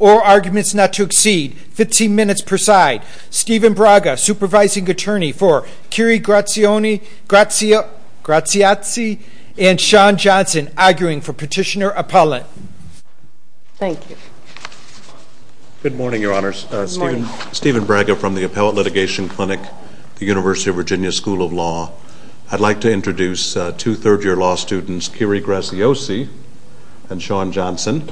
or arguments not to exceed 15 minutes per side. Stephen Braga, Supervising Attorney for Curie Grazioni, Grazia, Graziazzi, and Shawn Johnson arguing for Petitioner Appellant. Thank you. Good morning, Your Honors. Stephen Braga from the Appellate Litigation Clinic, the University of Michigan. I'd like to introduce two third-year law students, Curie Grazioni and Shawn Johnson,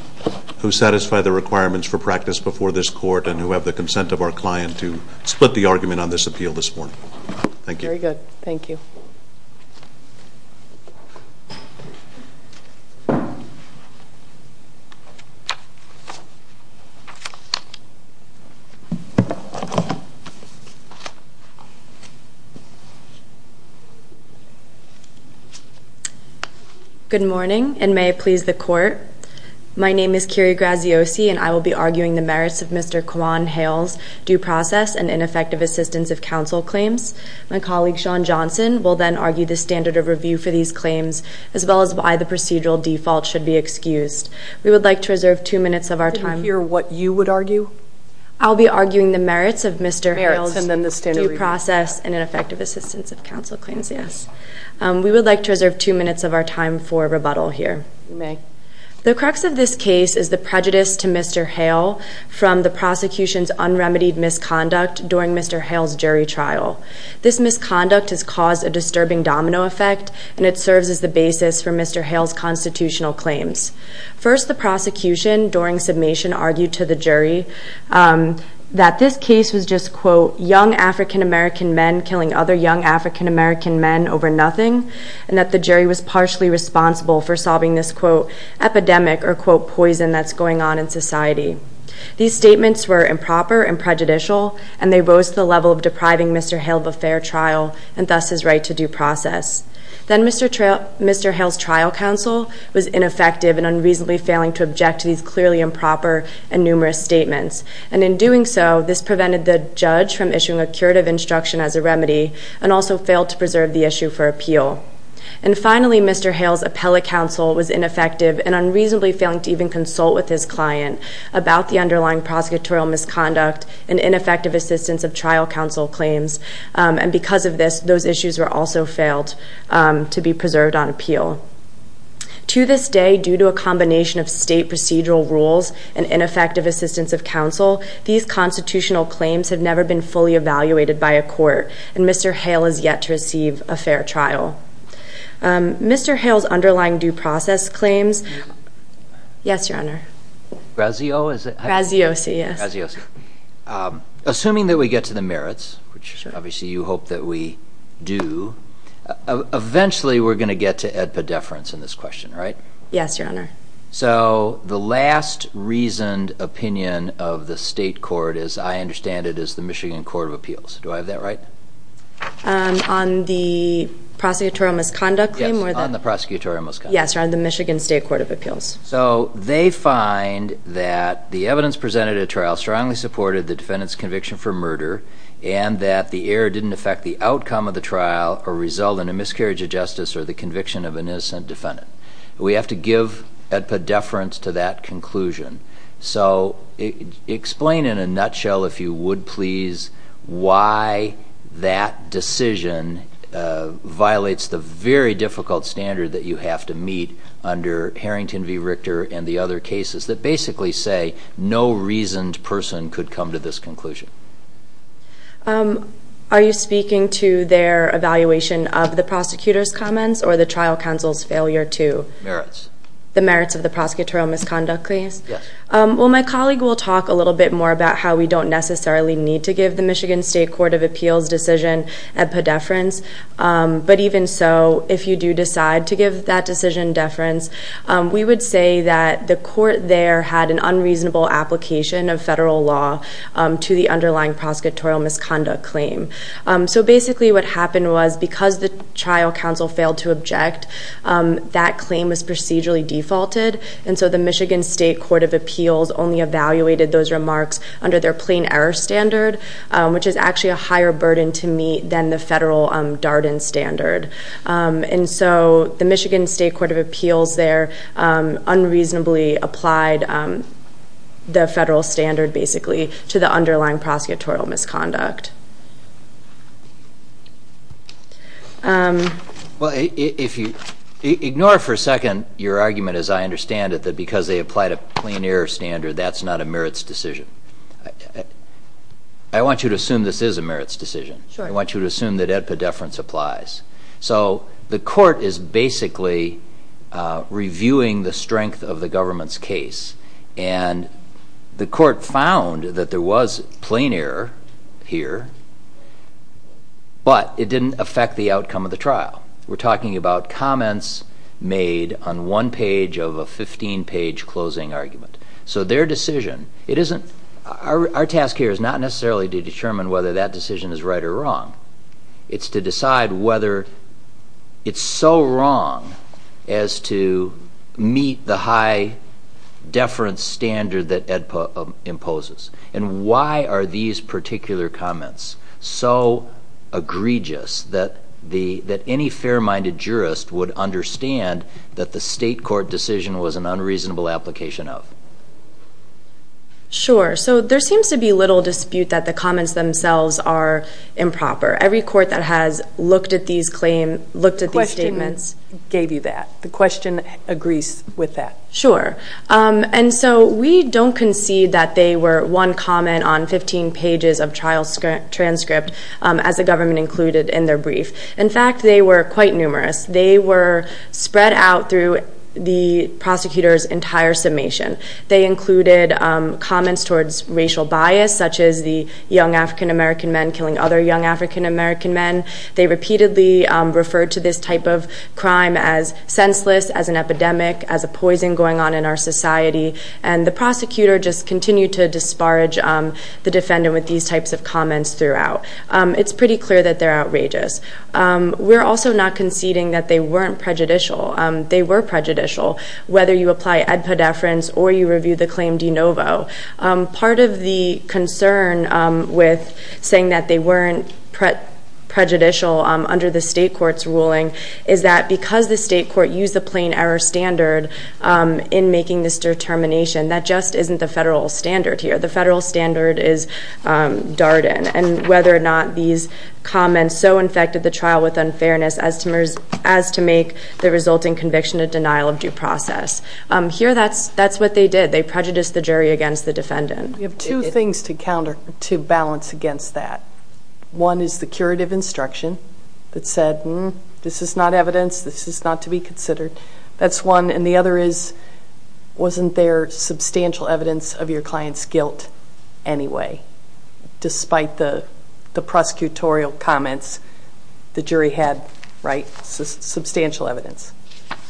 who satisfy the requirements for practice before this Court and who have the consent of our client to split the argument on this appeal this morning. Thank you. Very good. Thank you. Thank you. Good morning, and may it please the Court. My name is Curie Grazioni, and I will be arguing the merits of Mr. Kajuan Hale's due process and ineffective assistance of counsel claims. My colleague, Shawn Johnson, will then argue the standard of review for these claims as well as why the procedural default should be excused. We would like to reserve two minutes of our time. I didn't hear what you would argue. I'll be arguing the merits of Mr. Hale's due process and ineffective assistance of counsel claims. We would like to reserve two minutes of our time for rebuttal here. You may. The crux of this case is the prejudice to Mr. Hale from the prosecution's unremitied misconduct during Mr. Hale's jury trial. This misconduct has caused a disturbing domino effect, and it serves as the basis for Mr. Hale's constitutional claims. First, the prosecution during submission argued to the jury that this case was just quote, young African-American men killing other young African-American men over nothing, and that the jury was partially responsible for solving this quote, epidemic or quote, poison that's going on in society. These statements were improper and prejudicial, and they rose to the level of depriving Mr. Hale of a fair trial, and thus his right to due process. Then Mr. Hale's trial counsel was ineffective and unreasonably failing to object to these clearly improper and numerous statements. And in doing so, this prevented the judge from issuing a curative instruction as a remedy, and also failed to preserve the issue for appeal. And finally, Mr. Hale's appellate counsel was ineffective and unreasonably failing to even consult with his client about the underlying prosecutorial misconduct and ineffective assistance of trial counsel claims. And because of this, those issues were also failed to be preserved on appeal. To this day, due to a combination of state procedural rules and ineffective assistance of counsel, these constitutional claims have never been fully evaluated by a court, and Mr. Hale is yet to receive a fair trial. Mr. Hale's underlying due process claims... Yes, Your Honor. Graziosi. Graziosi, yes. Graziosi. Assuming that we get to the merits, which obviously you hope that we do, eventually we're going to get to EDPA deference in this question, right? Yes, Your Honor. So the last reasoned opinion of the state court, as I understand it, is the Michigan Court of Appeals. Do I have that right? On the prosecutorial misconduct claim? Yes, on the prosecutorial misconduct claim. Yes, on the Michigan State Court of Appeals. So they find that the evidence presented at trial strongly supported the defendant's conviction for murder and that the error didn't affect the outcome of the trial or result in a miscarriage of justice or the conviction of an innocent defendant. We have to give EDPA deference to that conclusion. So explain in a nutshell, if you would please, why that decision violates the very difficult standard that you have to meet under Harrington v. Richter and the other cases that basically say no reasoned person could come to this conclusion. Are you speaking to their evaluation of the prosecutor's comments or the trial counsel's failure to... Merits. The merits of the prosecutorial misconduct claims? Yes. Well, my colleague will talk a little bit more about how we don't necessarily need to give the Michigan State Court of Appeals decision EDPA deference. But even so, if you do decide to give that decision deference, we would say that the court there had an unreasonable application of federal law to the underlying prosecutorial misconduct claim. So basically what happened was because the trial counsel failed to object, that claim was procedurally defaulted. And so the Michigan State Court of Appeals only evaluated those remarks under their plain error standard, which is actually a higher burden to meet than the federal Darden standard. And so the Michigan State Court of Appeals there unreasonably applied the federal standard basically to the underlying prosecutorial misconduct. Ignore for a second your argument, as I understand it, that because they applied a plain error standard, that's not a merits decision. I want you to assume this is a merits decision. I want you to assume that EDPA deference applies. So the court is basically reviewing the strength of the government's case. And the court found that there was plain error here, but it didn't affect the outcome of the trial. We're talking about comments made on one page of a 15-page closing argument. So their decision, it isn't, our task here is not necessarily to determine whether that decision is right or wrong. It's to decide whether it's so wrong as to meet the high deference standard that EDPA imposes. And why are these particular comments so egregious that any fair-minded jurist would understand that the state court decision was an unreasonable application of? Sure. So there seems to be little dispute that the comments themselves are improper. Every court that has looked at these statements gave you that. The question agrees with that. Sure. And so we don't concede that they were one comment on 15 pages of trial transcript as the government included in their brief. In fact, they were quite numerous. They were spread out through the prosecutor's entire summation. They included comments towards racial bias, such as the young African-American men killing other young African-American men. They repeatedly referred to this type of crime as senseless, as an epidemic, as a poison going on in our society. And the prosecutor just continued to disparage the defendant with these types of comments throughout. It's pretty clear that they're outrageous. We're also not conceding that they weren't prejudicial. They were prejudicial, whether you apply EDPA deference or you review the claim de novo. Part of the concern with saying that they weren't prejudicial under the state court's ruling is that because the state court used the plain error standard in making this determination, that just isn't the federal standard here. The federal standard is Darden, and whether or not these comments so infected the trial with unfairness as to make the resulting conviction a denial of due process. Here, that's what they did. They prejudiced the jury against the defendant. We have two things to balance against that. One is the curative instruction that said, hmm, this is not evidence, this is not to be considered. That's one. And the other is, wasn't there substantial evidence of your client's guilt anyway, despite the prosecutorial comments the jury had, right? Substantial evidence.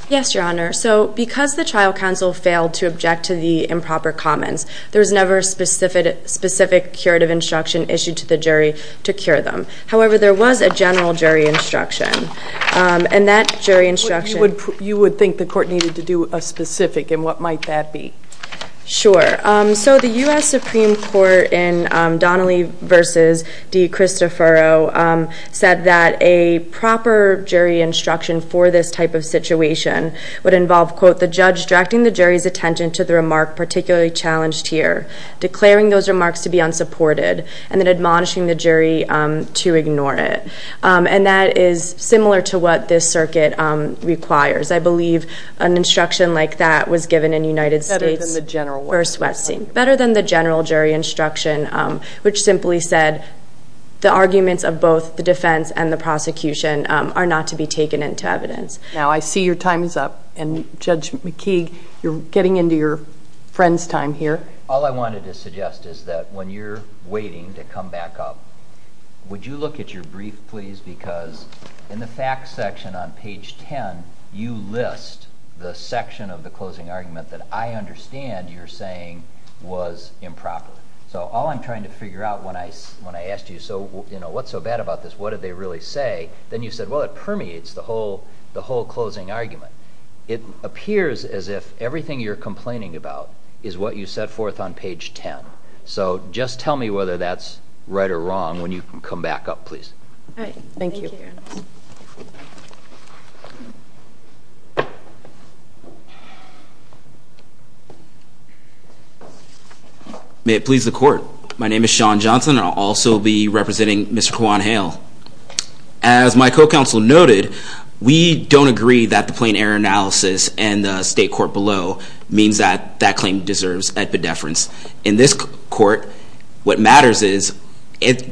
Yes, Your Honor. So because the trial counsel failed to object to the improper comments, there was never a specific curative instruction issued to the jury to cure them. However, there was a general jury instruction, and that jury instruction You would think the court needed to do a specific, and what might that be? Sure. So the U.S. Supreme Court in Donnelly v. De Cristoforo said that a proper jury instruction for this type of situation would involve, quote, the judge directing the jury's attention to the remark particularly challenged here, declaring those remarks to be unsupported, and then admonishing the jury to ignore it. And that is similar to what this circuit requires. I believe an instruction like that was given in United States v. Westing. Better than the general jury instruction, which simply said the arguments of both the defense and the prosecution are not to be taken into evidence. Now, I see your time is up, and Judge McKeague, you're getting into your friend's time here. All I wanted to suggest is that when you're waiting to come back up, would you look at your brief, please? Because in the facts section on page 10, you list the section of the closing argument that I understand you're saying was improper. So all I'm trying to figure out when I asked you, what's so bad about this, what did they really say? Then you said, well, it permeates the whole closing argument. It appears as if everything you're complaining about is what you set forth on page 10. So just tell me whether that's right or wrong when you come back up, please. All right. Thank you. May it please the Court. My name is Sean Johnson, and I'll also be representing Mr. Kwon Hale. As my co-counsel noted, we don't agree that the plain error analysis in the state court below means that that claim deserves epidepherence. In this court, what matters is,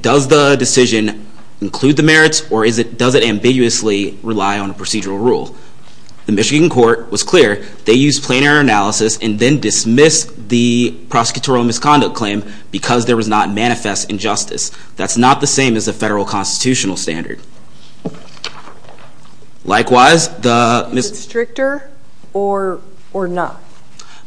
does the decision include the merits, or does it ambiguously rely on a procedural rule? The Michigan court was clear. They used plain error analysis and then dismissed the prosecutorial misconduct claim because there was not manifest injustice. That's not the same as the federal constitutional standard. Likewise, the – Is it stricter or not?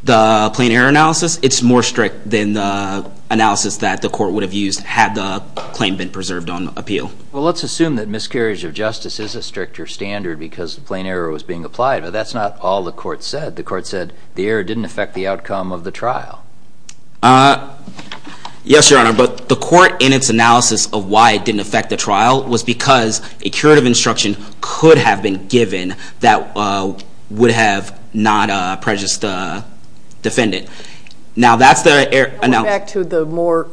The plain error analysis, it's more strict than the analysis that the court would have used had the claim been preserved on appeal. Well, let's assume that miscarriage of justice is a stricter standard because plain error was being applied, but that's not all the court said. The court said the error didn't affect the outcome of the trial. Yes, Your Honor, but the court, in its analysis of why it didn't affect the trial, was because a curative instruction could have been given that would have not prejudiced the defendant. Now, that's the – Going back to the more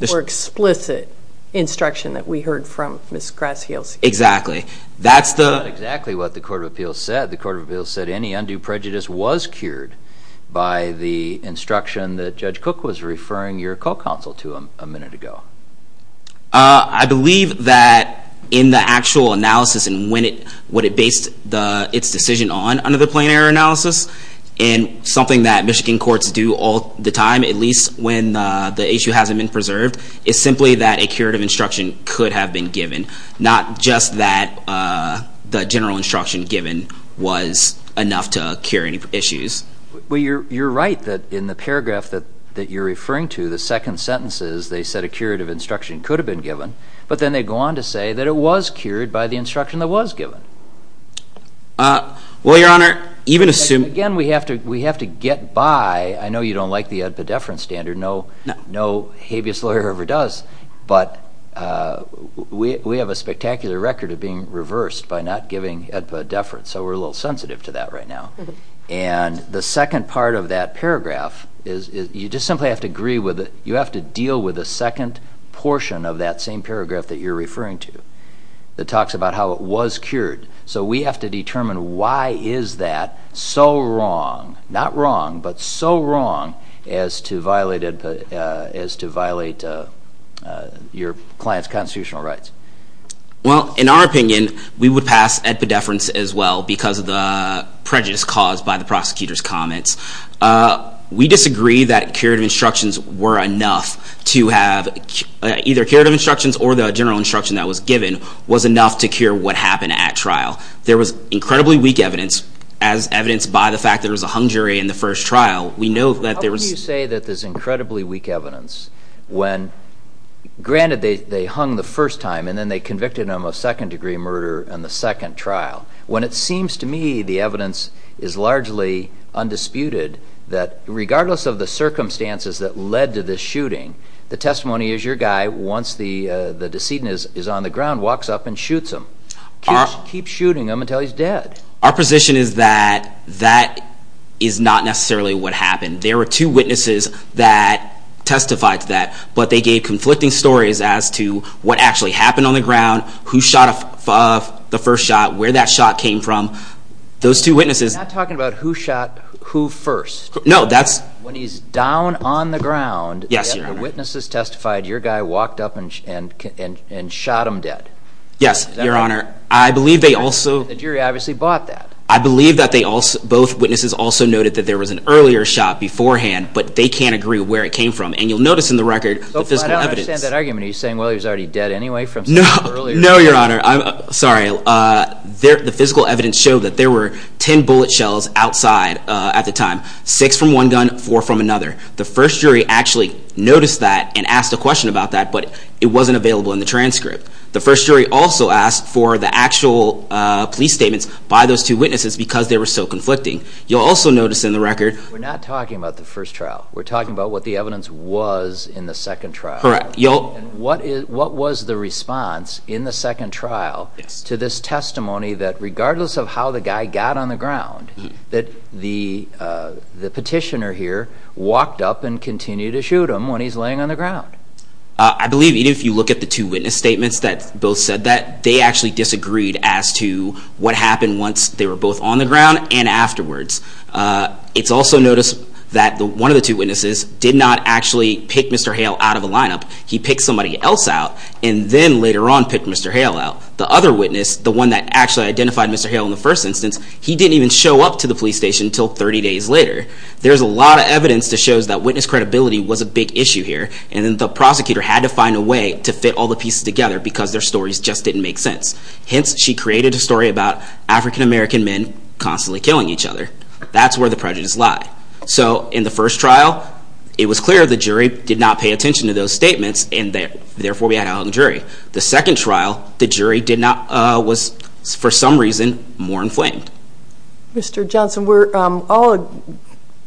explicit instruction that we heard from Ms. Grassheels. Exactly. That's the – That's not exactly what the court of appeals said. The court of appeals said any undue prejudice was cured by the instruction that Judge Cook was referring your co-counsel to a minute ago. I believe that in the actual analysis and when it – what it based its decision on under the plain error analysis and something that Michigan courts do all the time, at least when the issue hasn't been preserved, is simply that a curative instruction could have been given, not just that the general instruction given was enough to cure any issues. Well, you're right that in the paragraph that you're referring to, the second sentence is they said a curative instruction could have been given, but then they go on to say that it was cured by the instruction that was given. Well, Your Honor, even assuming – Again, we have to get by. I know you don't like the epidephrine standard. No habeas lawyer ever does, but we have a spectacular record of being reversed by not giving epidephrine, so we're a little sensitive to that right now. And the second part of that paragraph is you just simply have to agree with it. You have to deal with the second portion of that same paragraph that you're referring to that talks about how it was cured. So we have to determine why is that so wrong – as to violate your client's constitutional rights. Well, in our opinion, we would pass epidephrines as well because of the prejudice caused by the prosecutor's comments. We disagree that curative instructions were enough to have – either curative instructions or the general instruction that was given was enough to cure what happened at trial. There was incredibly weak evidence, as evidenced by the fact there was a hung jury in the first trial. We know that there was – How can you say that there's incredibly weak evidence when – granted, they hung the first time, and then they convicted him of second-degree murder in the second trial. When it seems to me the evidence is largely undisputed that regardless of the circumstances that led to this shooting, the testimony is your guy, once the decedent is on the ground, walks up and shoots him. Keeps shooting him until he's dead. Our position is that that is not necessarily what happened. There were two witnesses that testified to that, but they gave conflicting stories as to what actually happened on the ground, who shot the first shot, where that shot came from. Those two witnesses – You're not talking about who shot who first. No, that's – When he's down on the ground – Yes, Your Honor. – and the witnesses testified, your guy walked up and shot him dead. Yes, Your Honor. I believe they also – The jury obviously bought that. I believe that both witnesses also noted that there was an earlier shot beforehand, but they can't agree where it came from, and you'll notice in the record the physical evidence – I don't understand that argument. Are you saying, well, he was already dead anyway from something earlier? No, Your Honor. I'm sorry. The physical evidence showed that there were ten bullet shells outside at the time, six from one gun, four from another. The first jury actually noticed that and asked a question about that, but it wasn't available in the transcript. The first jury also asked for the actual police statements by those two witnesses because they were so conflicting. You'll also notice in the record – We're not talking about the first trial. We're talking about what the evidence was in the second trial. Correct. And what was the response in the second trial to this testimony that, regardless of how the guy got on the ground, that the petitioner here walked up and continued to shoot him when he's laying on the ground? I believe even if you look at the two witness statements that both said that, they actually disagreed as to what happened once they were both on the ground and afterwards. It's also noticed that one of the two witnesses did not actually pick Mr. Hale out of the lineup. He picked somebody else out and then later on picked Mr. Hale out. The other witness, the one that actually identified Mr. Hale in the first instance, he didn't even show up to the police station until 30 days later. There's a lot of evidence that shows that witness credibility was a big issue here, and then the prosecutor had to find a way to fit all the pieces together because their stories just didn't make sense. Hence, she created a story about African-American men constantly killing each other. That's where the prejudice lie. So in the first trial, it was clear the jury did not pay attention to those statements, and therefore we had a hung jury. The second trial, the jury was, for some reason, more inflamed. Mr. Johnson, we're all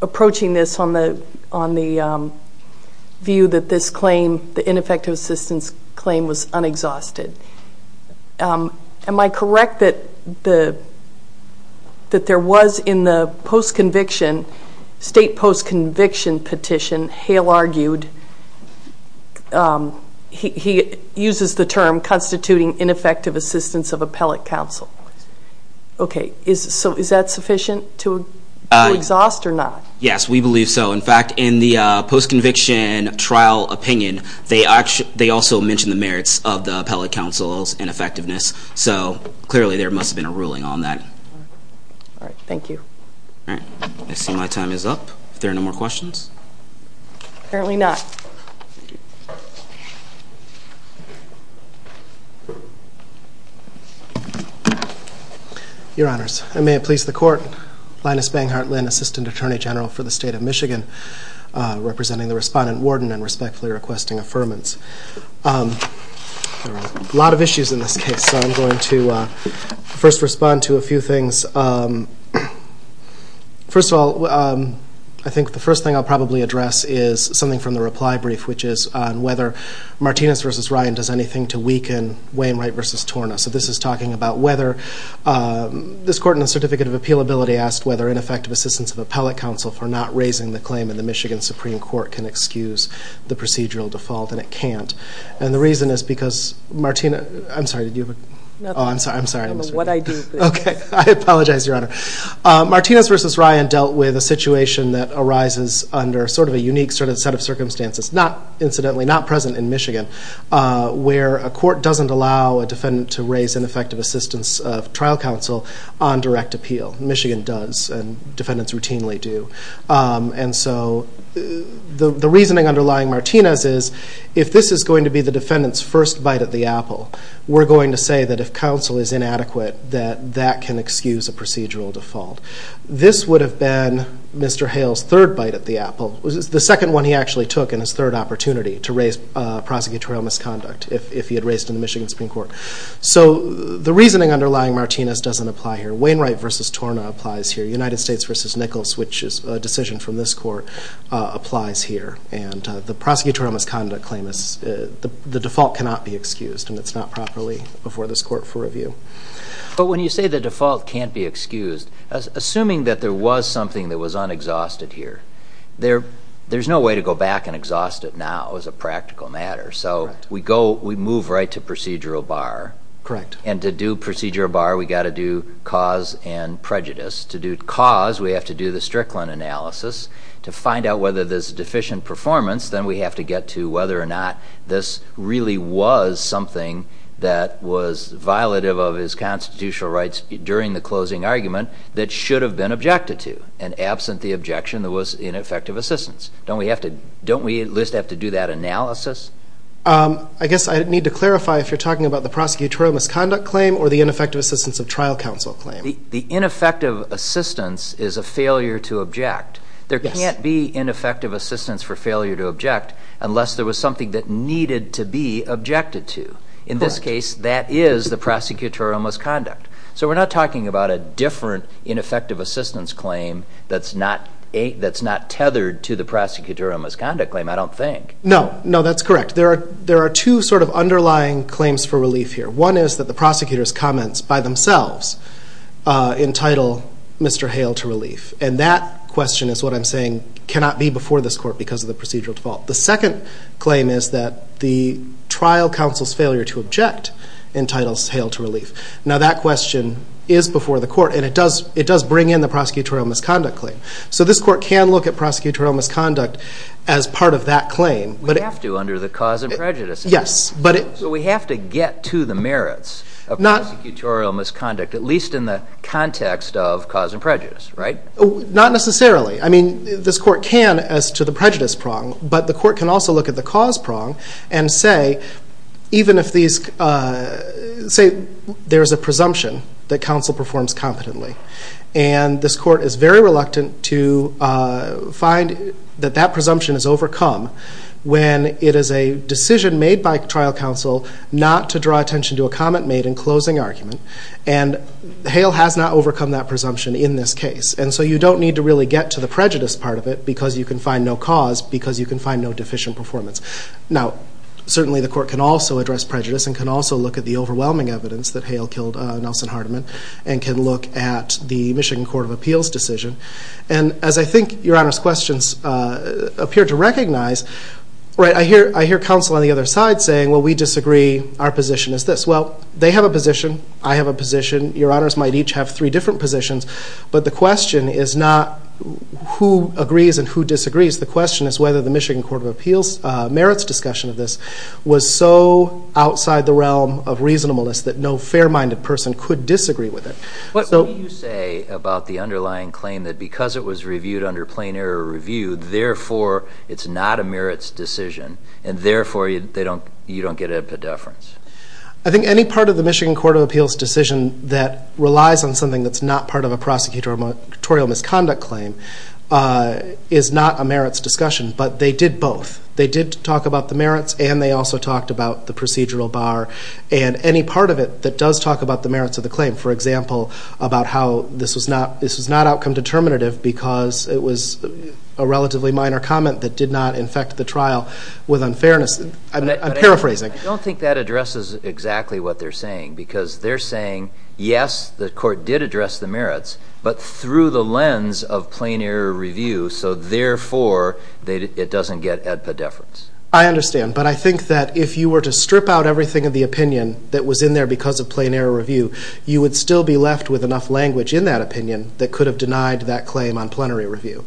approaching this on the view that this claim, the ineffective assistance claim, was unexhausted. Am I correct that there was in the post-conviction, state post-conviction petition, Hale argued he uses the term constituting ineffective assistance of appellate counsel? Okay. So is that sufficient to exhaust or not? Yes, we believe so. In fact, in the post-conviction trial opinion, they also mention the merits of the appellate counsel's ineffectiveness. So clearly there must have been a ruling on that. All right. Thank you. All right. I see my time is up. If there are no more questions? Apparently not. Your Honors, and may it please the Court, Linus Banghart Lynn, Assistant Attorney General for the State of Michigan, representing the Respondent Warden and respectfully requesting affirmance. There are a lot of issues in this case, so I'm going to first respond to a few things. First of all, I think the first thing I'll probably address is something from the reply brief, which is on whether Martinez v. Ryan does anything to weaken Wainwright v. Torna. So this is talking about whether this Court in the Certificate of Appealability asked whether ineffective assistance of appellate counsel for not raising the claim in the Michigan Supreme Court can excuse the procedural default, and it can't. And the reason is because Martinez v. Ryan dealt with a situation that arises under sort of a unique set of circumstances, incidentally not present in Michigan, where a court doesn't allow a defendant to raise ineffective assistance of trial counsel on direct appeal. Michigan does, and defendants routinely do. And so the reasoning underlying Martinez is, if this is going to be the defendant's first bite at the apple, we're going to say that if counsel is inadequate, that that can excuse a procedural default. This would have been Mr. Hale's third bite at the apple. The second one he actually took in his third opportunity to raise prosecutorial misconduct, if he had raised in the Michigan Supreme Court. So the reasoning underlying Martinez doesn't apply here. Wainwright v. Torna applies here. United States v. Nichols, which is a decision from this Court, applies here. And the prosecutorial misconduct claim, the default cannot be excused, and it's not properly before this Court for review. But when you say the default can't be excused, assuming that there was something that was unexhausted here, there's no way to go back and exhaust it now as a practical matter. So we move right to procedural bar. And to do procedural bar, we've got to do cause and prejudice. To do cause, we have to do the Strickland analysis. To find out whether there's deficient performance, then we have to get to whether or not this really was something that was violative of his constitutional rights during the closing argument that should have been objected to, and absent the objection there was ineffective assistance. Don't we at least have to do that analysis? I guess I need to clarify if you're talking about the prosecutorial misconduct claim or the ineffective assistance of trial counsel claim. The ineffective assistance is a failure to object. There can't be ineffective assistance for failure to object unless there was something that needed to be objected to. In this case, that is the prosecutorial misconduct. So we're not talking about a different ineffective assistance claim that's not tethered to the prosecutorial misconduct claim, I don't think. No, that's correct. There are two sort of underlying claims for relief here. One is that the prosecutor's comments by themselves entitle Mr. Hale to relief. And that question is what I'm saying cannot be before this court because of the procedural default. The second claim is that the trial counsel's failure to object entitles Hale to relief. Now that question is before the court, and it does bring in the prosecutorial misconduct claim. So this court can look at prosecutorial misconduct as part of that claim. We have to under the cause and prejudice. Yes. But we have to get to the merits of prosecutorial misconduct, at least in the context of cause and prejudice, right? Not necessarily. I mean, this court can as to the prejudice prong, but the court can also look at the cause prong and say, even if there's a presumption that counsel performs competently. And this court is very reluctant to find that that presumption is overcome when it is a decision made by trial counsel not to draw attention to a comment made in closing argument. And Hale has not overcome that presumption in this case. And so you don't need to really get to the prejudice part of it because you can find no cause because you can find no deficient performance. Now, certainly the court can also address prejudice and can also look at the overwhelming evidence that Hale killed Nelson Hardiman and can look at the Michigan Court of Appeals decision. And as I think Your Honor's questions appear to recognize, right, I hear counsel on the other side saying, well, we disagree. Our position is this. Well, they have a position. I have a position. Your Honors might each have three different positions. But the question is not who agrees and who disagrees. The question is whether the Michigan Court of Appeals merits discussion of this was so outside the realm of reasonableness that no fair-minded person could disagree with it. What will you say about the underlying claim that because it was reviewed under plain error review, therefore it's not a merits decision and therefore you don't get a deference? I think any part of the Michigan Court of Appeals decision that relies on something that's not part of a prosecutorial misconduct claim is not a merits discussion. But they did both. They did talk about the merits and they also talked about the procedural bar. And any part of it that does talk about the merits of the claim, for example, about how this was not outcome determinative because it was a relatively minor comment that did not infect the trial with unfairness, I'm paraphrasing. I don't think that addresses exactly what they're saying because they're saying, yes, the court did address the merits, but through the lens of plain error review, so therefore it doesn't get ad pedeference. I understand. But I think that if you were to strip out everything of the opinion that was in there because of plain error review, you would still be left with enough language in that opinion that could have denied that claim on plenary review.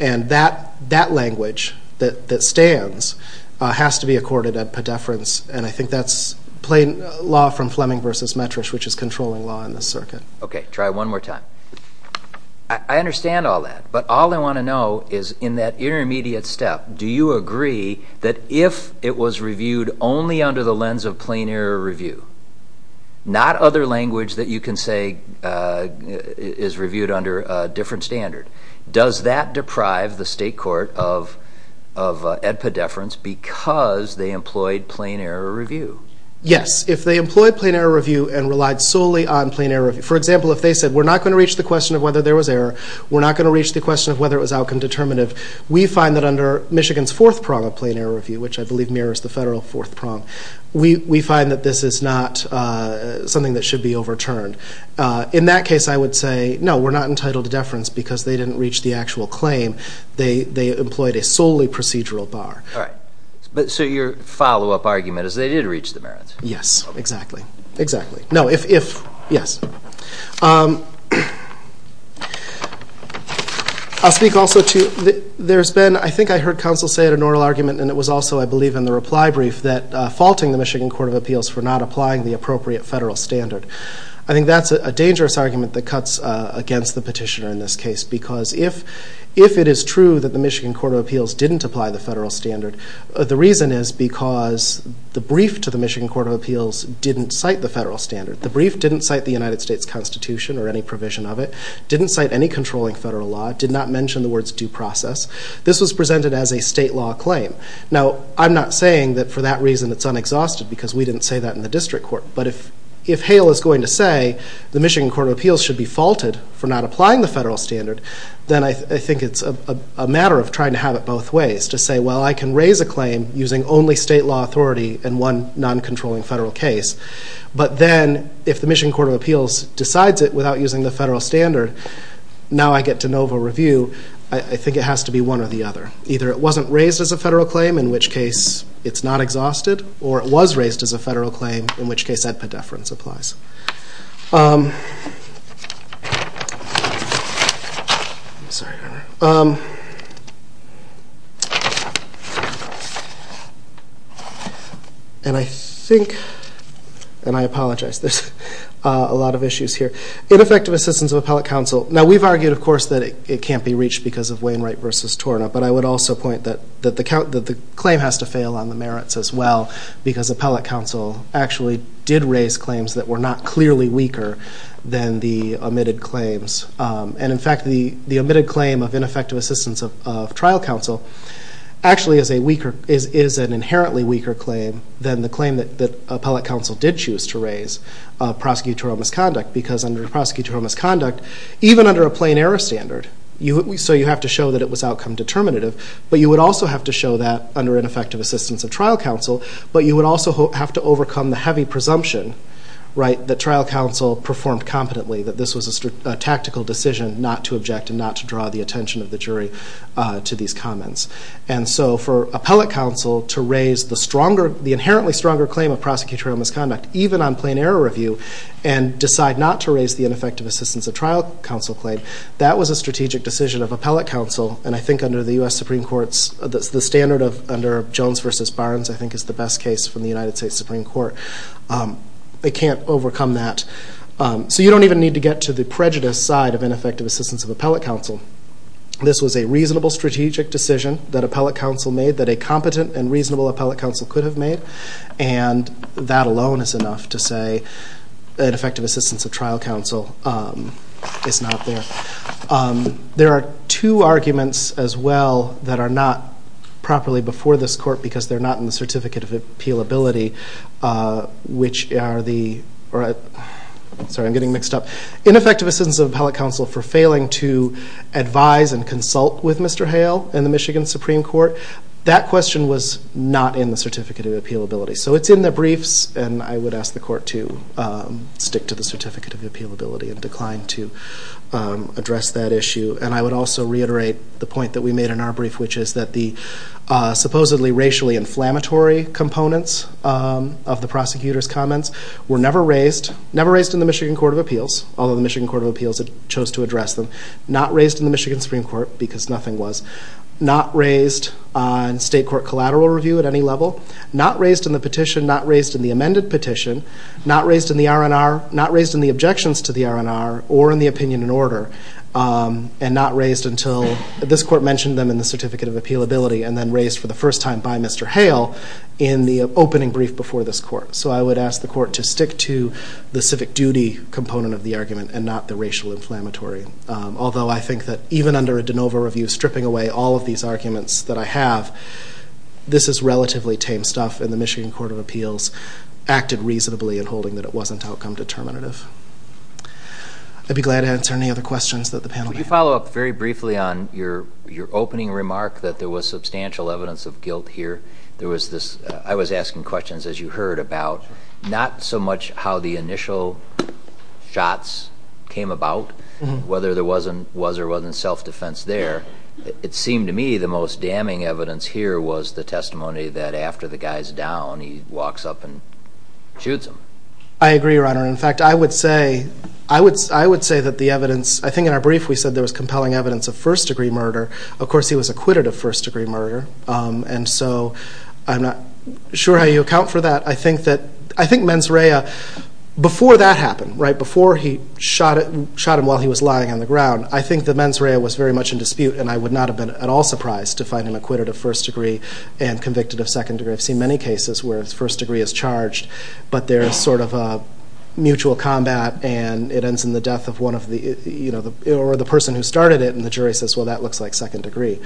And that language that stands has to be accorded at pedeference. And I think that's plain law from Fleming v. Metrish, which is controlling law in this circuit. Okay. Try one more time. I understand all that. But all I want to know is in that intermediate step, do you agree that if it was reviewed only under the lens of plain error review, not other language that you can say is reviewed under a different standard, does that deprive the state court of ad pedeference because they employed plain error review? Yes. If they employed plain error review and relied solely on plain error review, for example, if they said we're not going to reach the question of whether there was error, we're not going to reach the question of whether it was outcome determinative, we find that under Michigan's fourth prong of plain error review, which I believe mirrors the federal fourth prong, we find that this is not something that should be overturned. In that case, I would say, no, we're not entitled to deference because they didn't reach the actual claim. They employed a solely procedural bar. All right. So your follow-up argument is they did reach the merits. Yes, exactly. Exactly. No, if, yes. I'll speak also to, there's been, I think I heard counsel say at an oral argument, and it was also, I believe, in the reply brief, that faulting the Michigan Court of Appeals for not applying the appropriate federal standard. I think that's a dangerous argument that cuts against the petitioner in this case because if it is true that the Michigan Court of Appeals didn't apply the federal standard, the reason is because the brief to the Michigan Court of Appeals didn't cite the federal standard. The brief didn't cite the United States Constitution or any provision of it, didn't cite any controlling federal law, did not mention the words due process. This was presented as a state law claim. Now, I'm not saying that for that reason it's unexhausted because we didn't say that in the district court, but if Hale is going to say the Michigan Court of Appeals should be faulted for not applying the federal standard, then I think it's a matter of trying to have it both ways, to say, well, I can raise a claim using only state law authority and one non-controlling federal case, but then if the Michigan Court of Appeals decides it without using the federal standard, now I get de novo review. I think it has to be one or the other. Either it wasn't raised as a federal claim, in which case it's not exhausted, or it was raised as a federal claim, in which case that pedeference applies. And I think, and I apologize, there's a lot of issues here. Ineffective assistance of appellate counsel. Now, we've argued, of course, that it can't be reached because of Wainwright v. Torna, but I would also point that the claim has to fail on the merits as well because appellate counsel actually did raise claims that were not clearly weaker than the omitted claims. And, in fact, the omitted claim of ineffective assistance of trial counsel actually is an inherently weaker claim than the claim that appellate counsel did choose to raise, prosecutorial misconduct, because under prosecutorial misconduct, even under a plain error standard, so you have to show that it was outcome determinative, but you would also have to show that under ineffective assistance of trial counsel, but you would also have to overcome the heavy presumption that trial counsel performed competently, that this was a tactical decision not to object and not to draw the attention of the jury to these comments. And so for appellate counsel to raise the inherently stronger claim of prosecutorial misconduct, even on plain error review, and decide not to raise the ineffective assistance of trial counsel claim, that was a strategic decision of appellate counsel, and I think under the U.S. Supreme Court's, the standard under Jones v. Barnes I think is the best case from the United States Supreme Court. They can't overcome that. So you don't even need to get to the prejudice side of ineffective assistance of appellate counsel. This was a reasonable strategic decision that appellate counsel made that a competent and reasonable appellate counsel could have made, and that alone is enough to say ineffective assistance of trial counsel is not there. There are two arguments as well that are not properly before this court because they're not in the Certificate of Appealability, which are the ineffective assistance of appellate counsel for failing to advise and consult with Mr. Hale in the Michigan Supreme Court. That question was not in the Certificate of Appealability. So it's in the briefs, and I would ask the court to stick to the Certificate of Appealability and decline to address that issue. And I would also reiterate the point that we made in our brief, which is that the supposedly racially inflammatory components of the prosecutor's comments were never raised, never raised in the Michigan Court of Appeals, although the Michigan Court of Appeals chose to address them, not raised in the Michigan Supreme Court because nothing was, not raised on state court collateral review at any level, not raised in the petition, not raised in the amended petition, not raised in the R&R, not raised in the objections to the R&R or in the opinion and order, and not raised until this court mentioned them in the Certificate of Appealability and then raised for the first time by Mr. Hale in the opening brief before this court. So I would ask the court to stick to the civic duty component of the argument and not the racial inflammatory, although I think that even under a de novo review stripping away all of these arguments that I have, this is relatively tame stuff, and the Michigan Court of Appeals acted reasonably in holding that it wasn't outcome determinative. I'd be glad to answer any other questions that the panel has. Could you follow up very briefly on your opening remark that there was substantial evidence of guilt here? There was this, I was asking questions, as you heard, about not so much how the initial shots came about, whether there was or wasn't self-defense there. It seemed to me the most damning evidence here was the testimony that after the guy's down, he walks up and shoots him. I agree, Your Honor. In fact, I would say that the evidence, I think in our brief we said there was compelling evidence of first-degree murder. Of course, he was acquitted of first-degree murder, and so I'm not sure how you account for that. I think Menzraya, before that happened, before he shot him while he was lying on the ground, I think that Menzraya was very much in dispute, and I would not have been at all surprised to find him acquitted of first-degree and convicted of second-degree. I've seen many cases where first-degree is charged, but there is sort of a mutual combat, and it ends in the death of the person who started it, and the jury says, well, that looks like second-degree.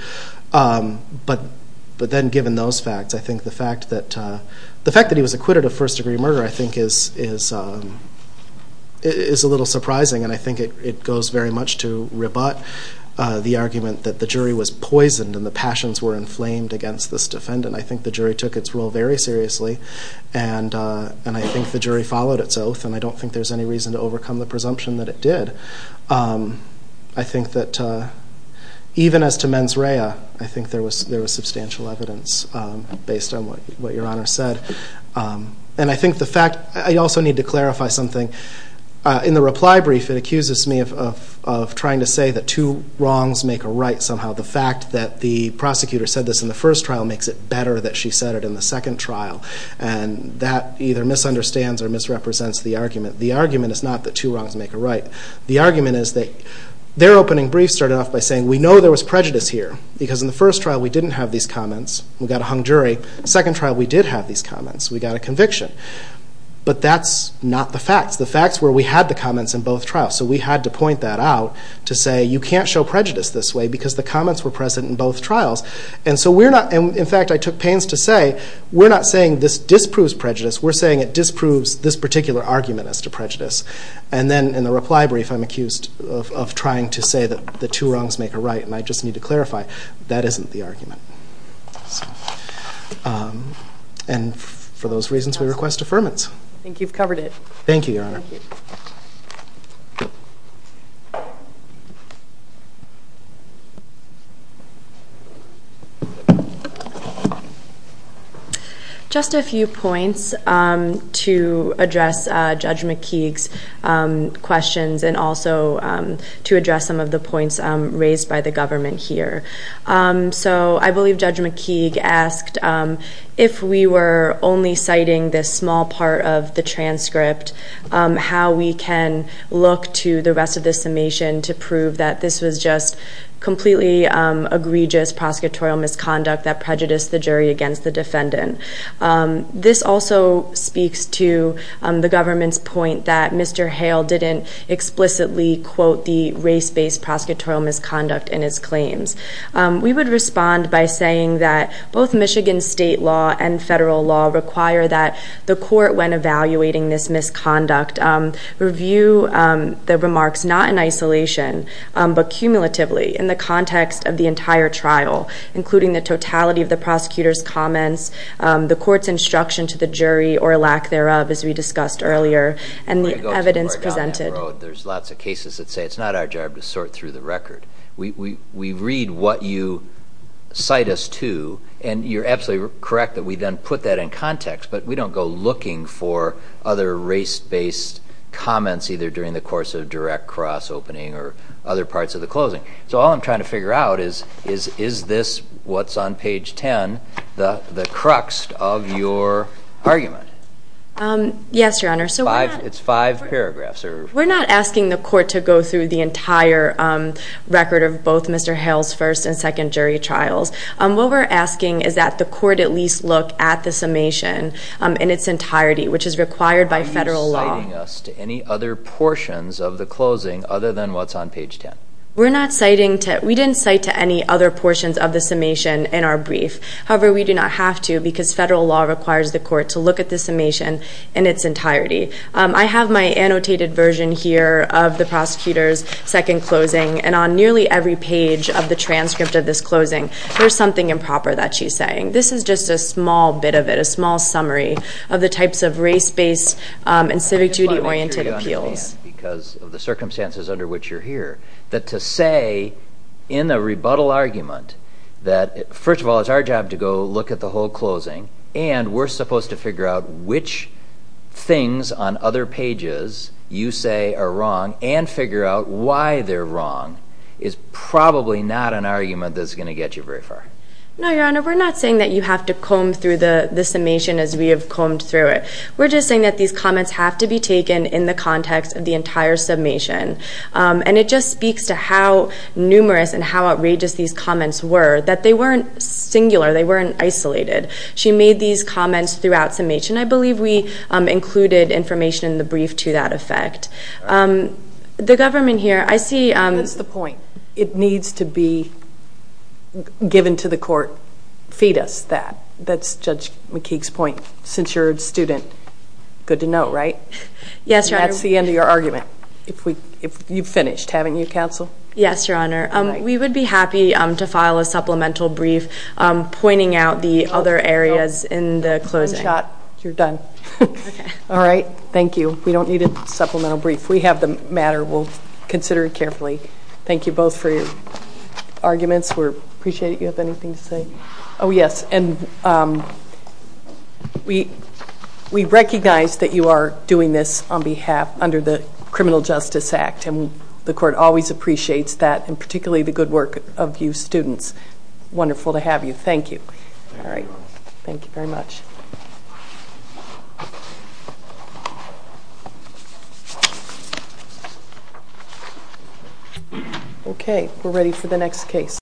But then given those facts, I think the fact that he was acquitted of first-degree murder I think is a little surprising, and I think it goes very much to rebut the argument that the jury was poisoned and the passions were inflamed against this defendant. I think the jury took its rule very seriously, and I think the jury followed its oath, and I don't think there's any reason to overcome the presumption that it did. I think that even as to Menzraya, I think there was substantial evidence based on what Your Honor said, and I think the fact, I also need to clarify something. In the reply brief, it accuses me of trying to say that two wrongs make a right somehow. The fact that the prosecutor said this in the first trial makes it better that she said it in the second trial, and that either misunderstands or misrepresents the argument. The argument is not that two wrongs make a right. The argument is that their opening brief started off by saying, we know there was prejudice here, because in the first trial we didn't have these comments. We got a hung jury. Second trial, we did have these comments. We got a conviction. But that's not the facts. The facts were we had the comments in both trials, so we had to point that out to say, you can't show prejudice this way because the comments were present in both trials. In fact, I took pains to say, We're saying it disproves this particular argument as to prejudice. In the reply brief, I'm accused of trying to say that the two wrongs make a right, and I just need to clarify, that isn't the argument. For those reasons, we request affirmance. I think you've covered it. Thank you, Your Honor. Thank you. Just a few points to address Judge McKeague's questions, and also to address some of the points raised by the government here. I believe Judge McKeague asked, if we were only citing this small part of the transcript, how we can look to the rest of the summation to prove that this was just completely egregious prosecutorial misconduct that prejudiced the jury against the defendant. This also speaks to the government's point that Mr. Hale didn't explicitly quote the race-based prosecutorial misconduct in his claims. We would respond by saying that both Michigan state law and federal law require that the court, when evaluating this misconduct, review the remarks not in isolation, but cumulatively, in the context of the entire trial, including the totality of the prosecutor's comments, the court's instruction to the jury, or lack thereof, as we discussed earlier, and the evidence presented. There's lots of cases that say it's not our job to sort through the record. We read what you cite us to, and you're absolutely correct that we then put that in context, but we don't go looking for other race-based comments, either during the course of direct cross-opening or other parts of the closing. So all I'm trying to figure out is, is this what's on page 10, the crux of your argument? Yes, Your Honor. It's five paragraphs. We're not asking the court to go through the entire record of both Mr. Hale's first and second jury trials. What we're asking is that the court at least look at the summation in its entirety, which is required by federal law. Are you citing us to any other portions of the closing other than what's on page 10? We didn't cite to any other portions of the summation in our brief. However, we do not have to, because federal law requires the court to look at the summation in its entirety. I have my annotated version here of the prosecutor's second closing, and on nearly every page of the transcript of this closing, there's something improper that she's saying. This is just a small bit of it, a small summary of the types of race-based and civic duty-oriented appeals. I just want to make sure you understand, because of the circumstances under which you're here, that to say in a rebuttal argument that, first of all, it's our job to go look at the whole closing, and we're supposed to figure out which things on other pages you say are wrong and figure out why they're wrong, is probably not an argument that's going to get you very far. No, Your Honor. We're not saying that you have to comb through the summation as we have combed through it. We're just saying that these comments have to be taken in the context of the entire summation. And it just speaks to how numerous and how outrageous these comments were, that they weren't singular, they weren't isolated. She made these comments throughout summation. I believe we included information in the brief to that effect. The government here, I see... That's the point. It needs to be given to the court, feed us that. That's Judge McKeague's point. Since you're a student, good to know, right? Yes, Your Honor. And that's the end of your argument. You've finished, haven't you, counsel? Yes, Your Honor. We would be happy to file a supplemental brief pointing out the other areas in the closing. One shot, you're done. All right. Thank you. We don't need a supplemental brief. We have the matter. We'll consider it carefully. Thank you both for your arguments. We appreciate it. Do you have anything to say? Oh, yes. And we recognize that you are doing this on behalf, under the Criminal Justice Act, and the court always appreciates that, and particularly the good work of you students. It's wonderful to have you. Thank you. All right. Thank you very much. Okay. We're ready for the next case.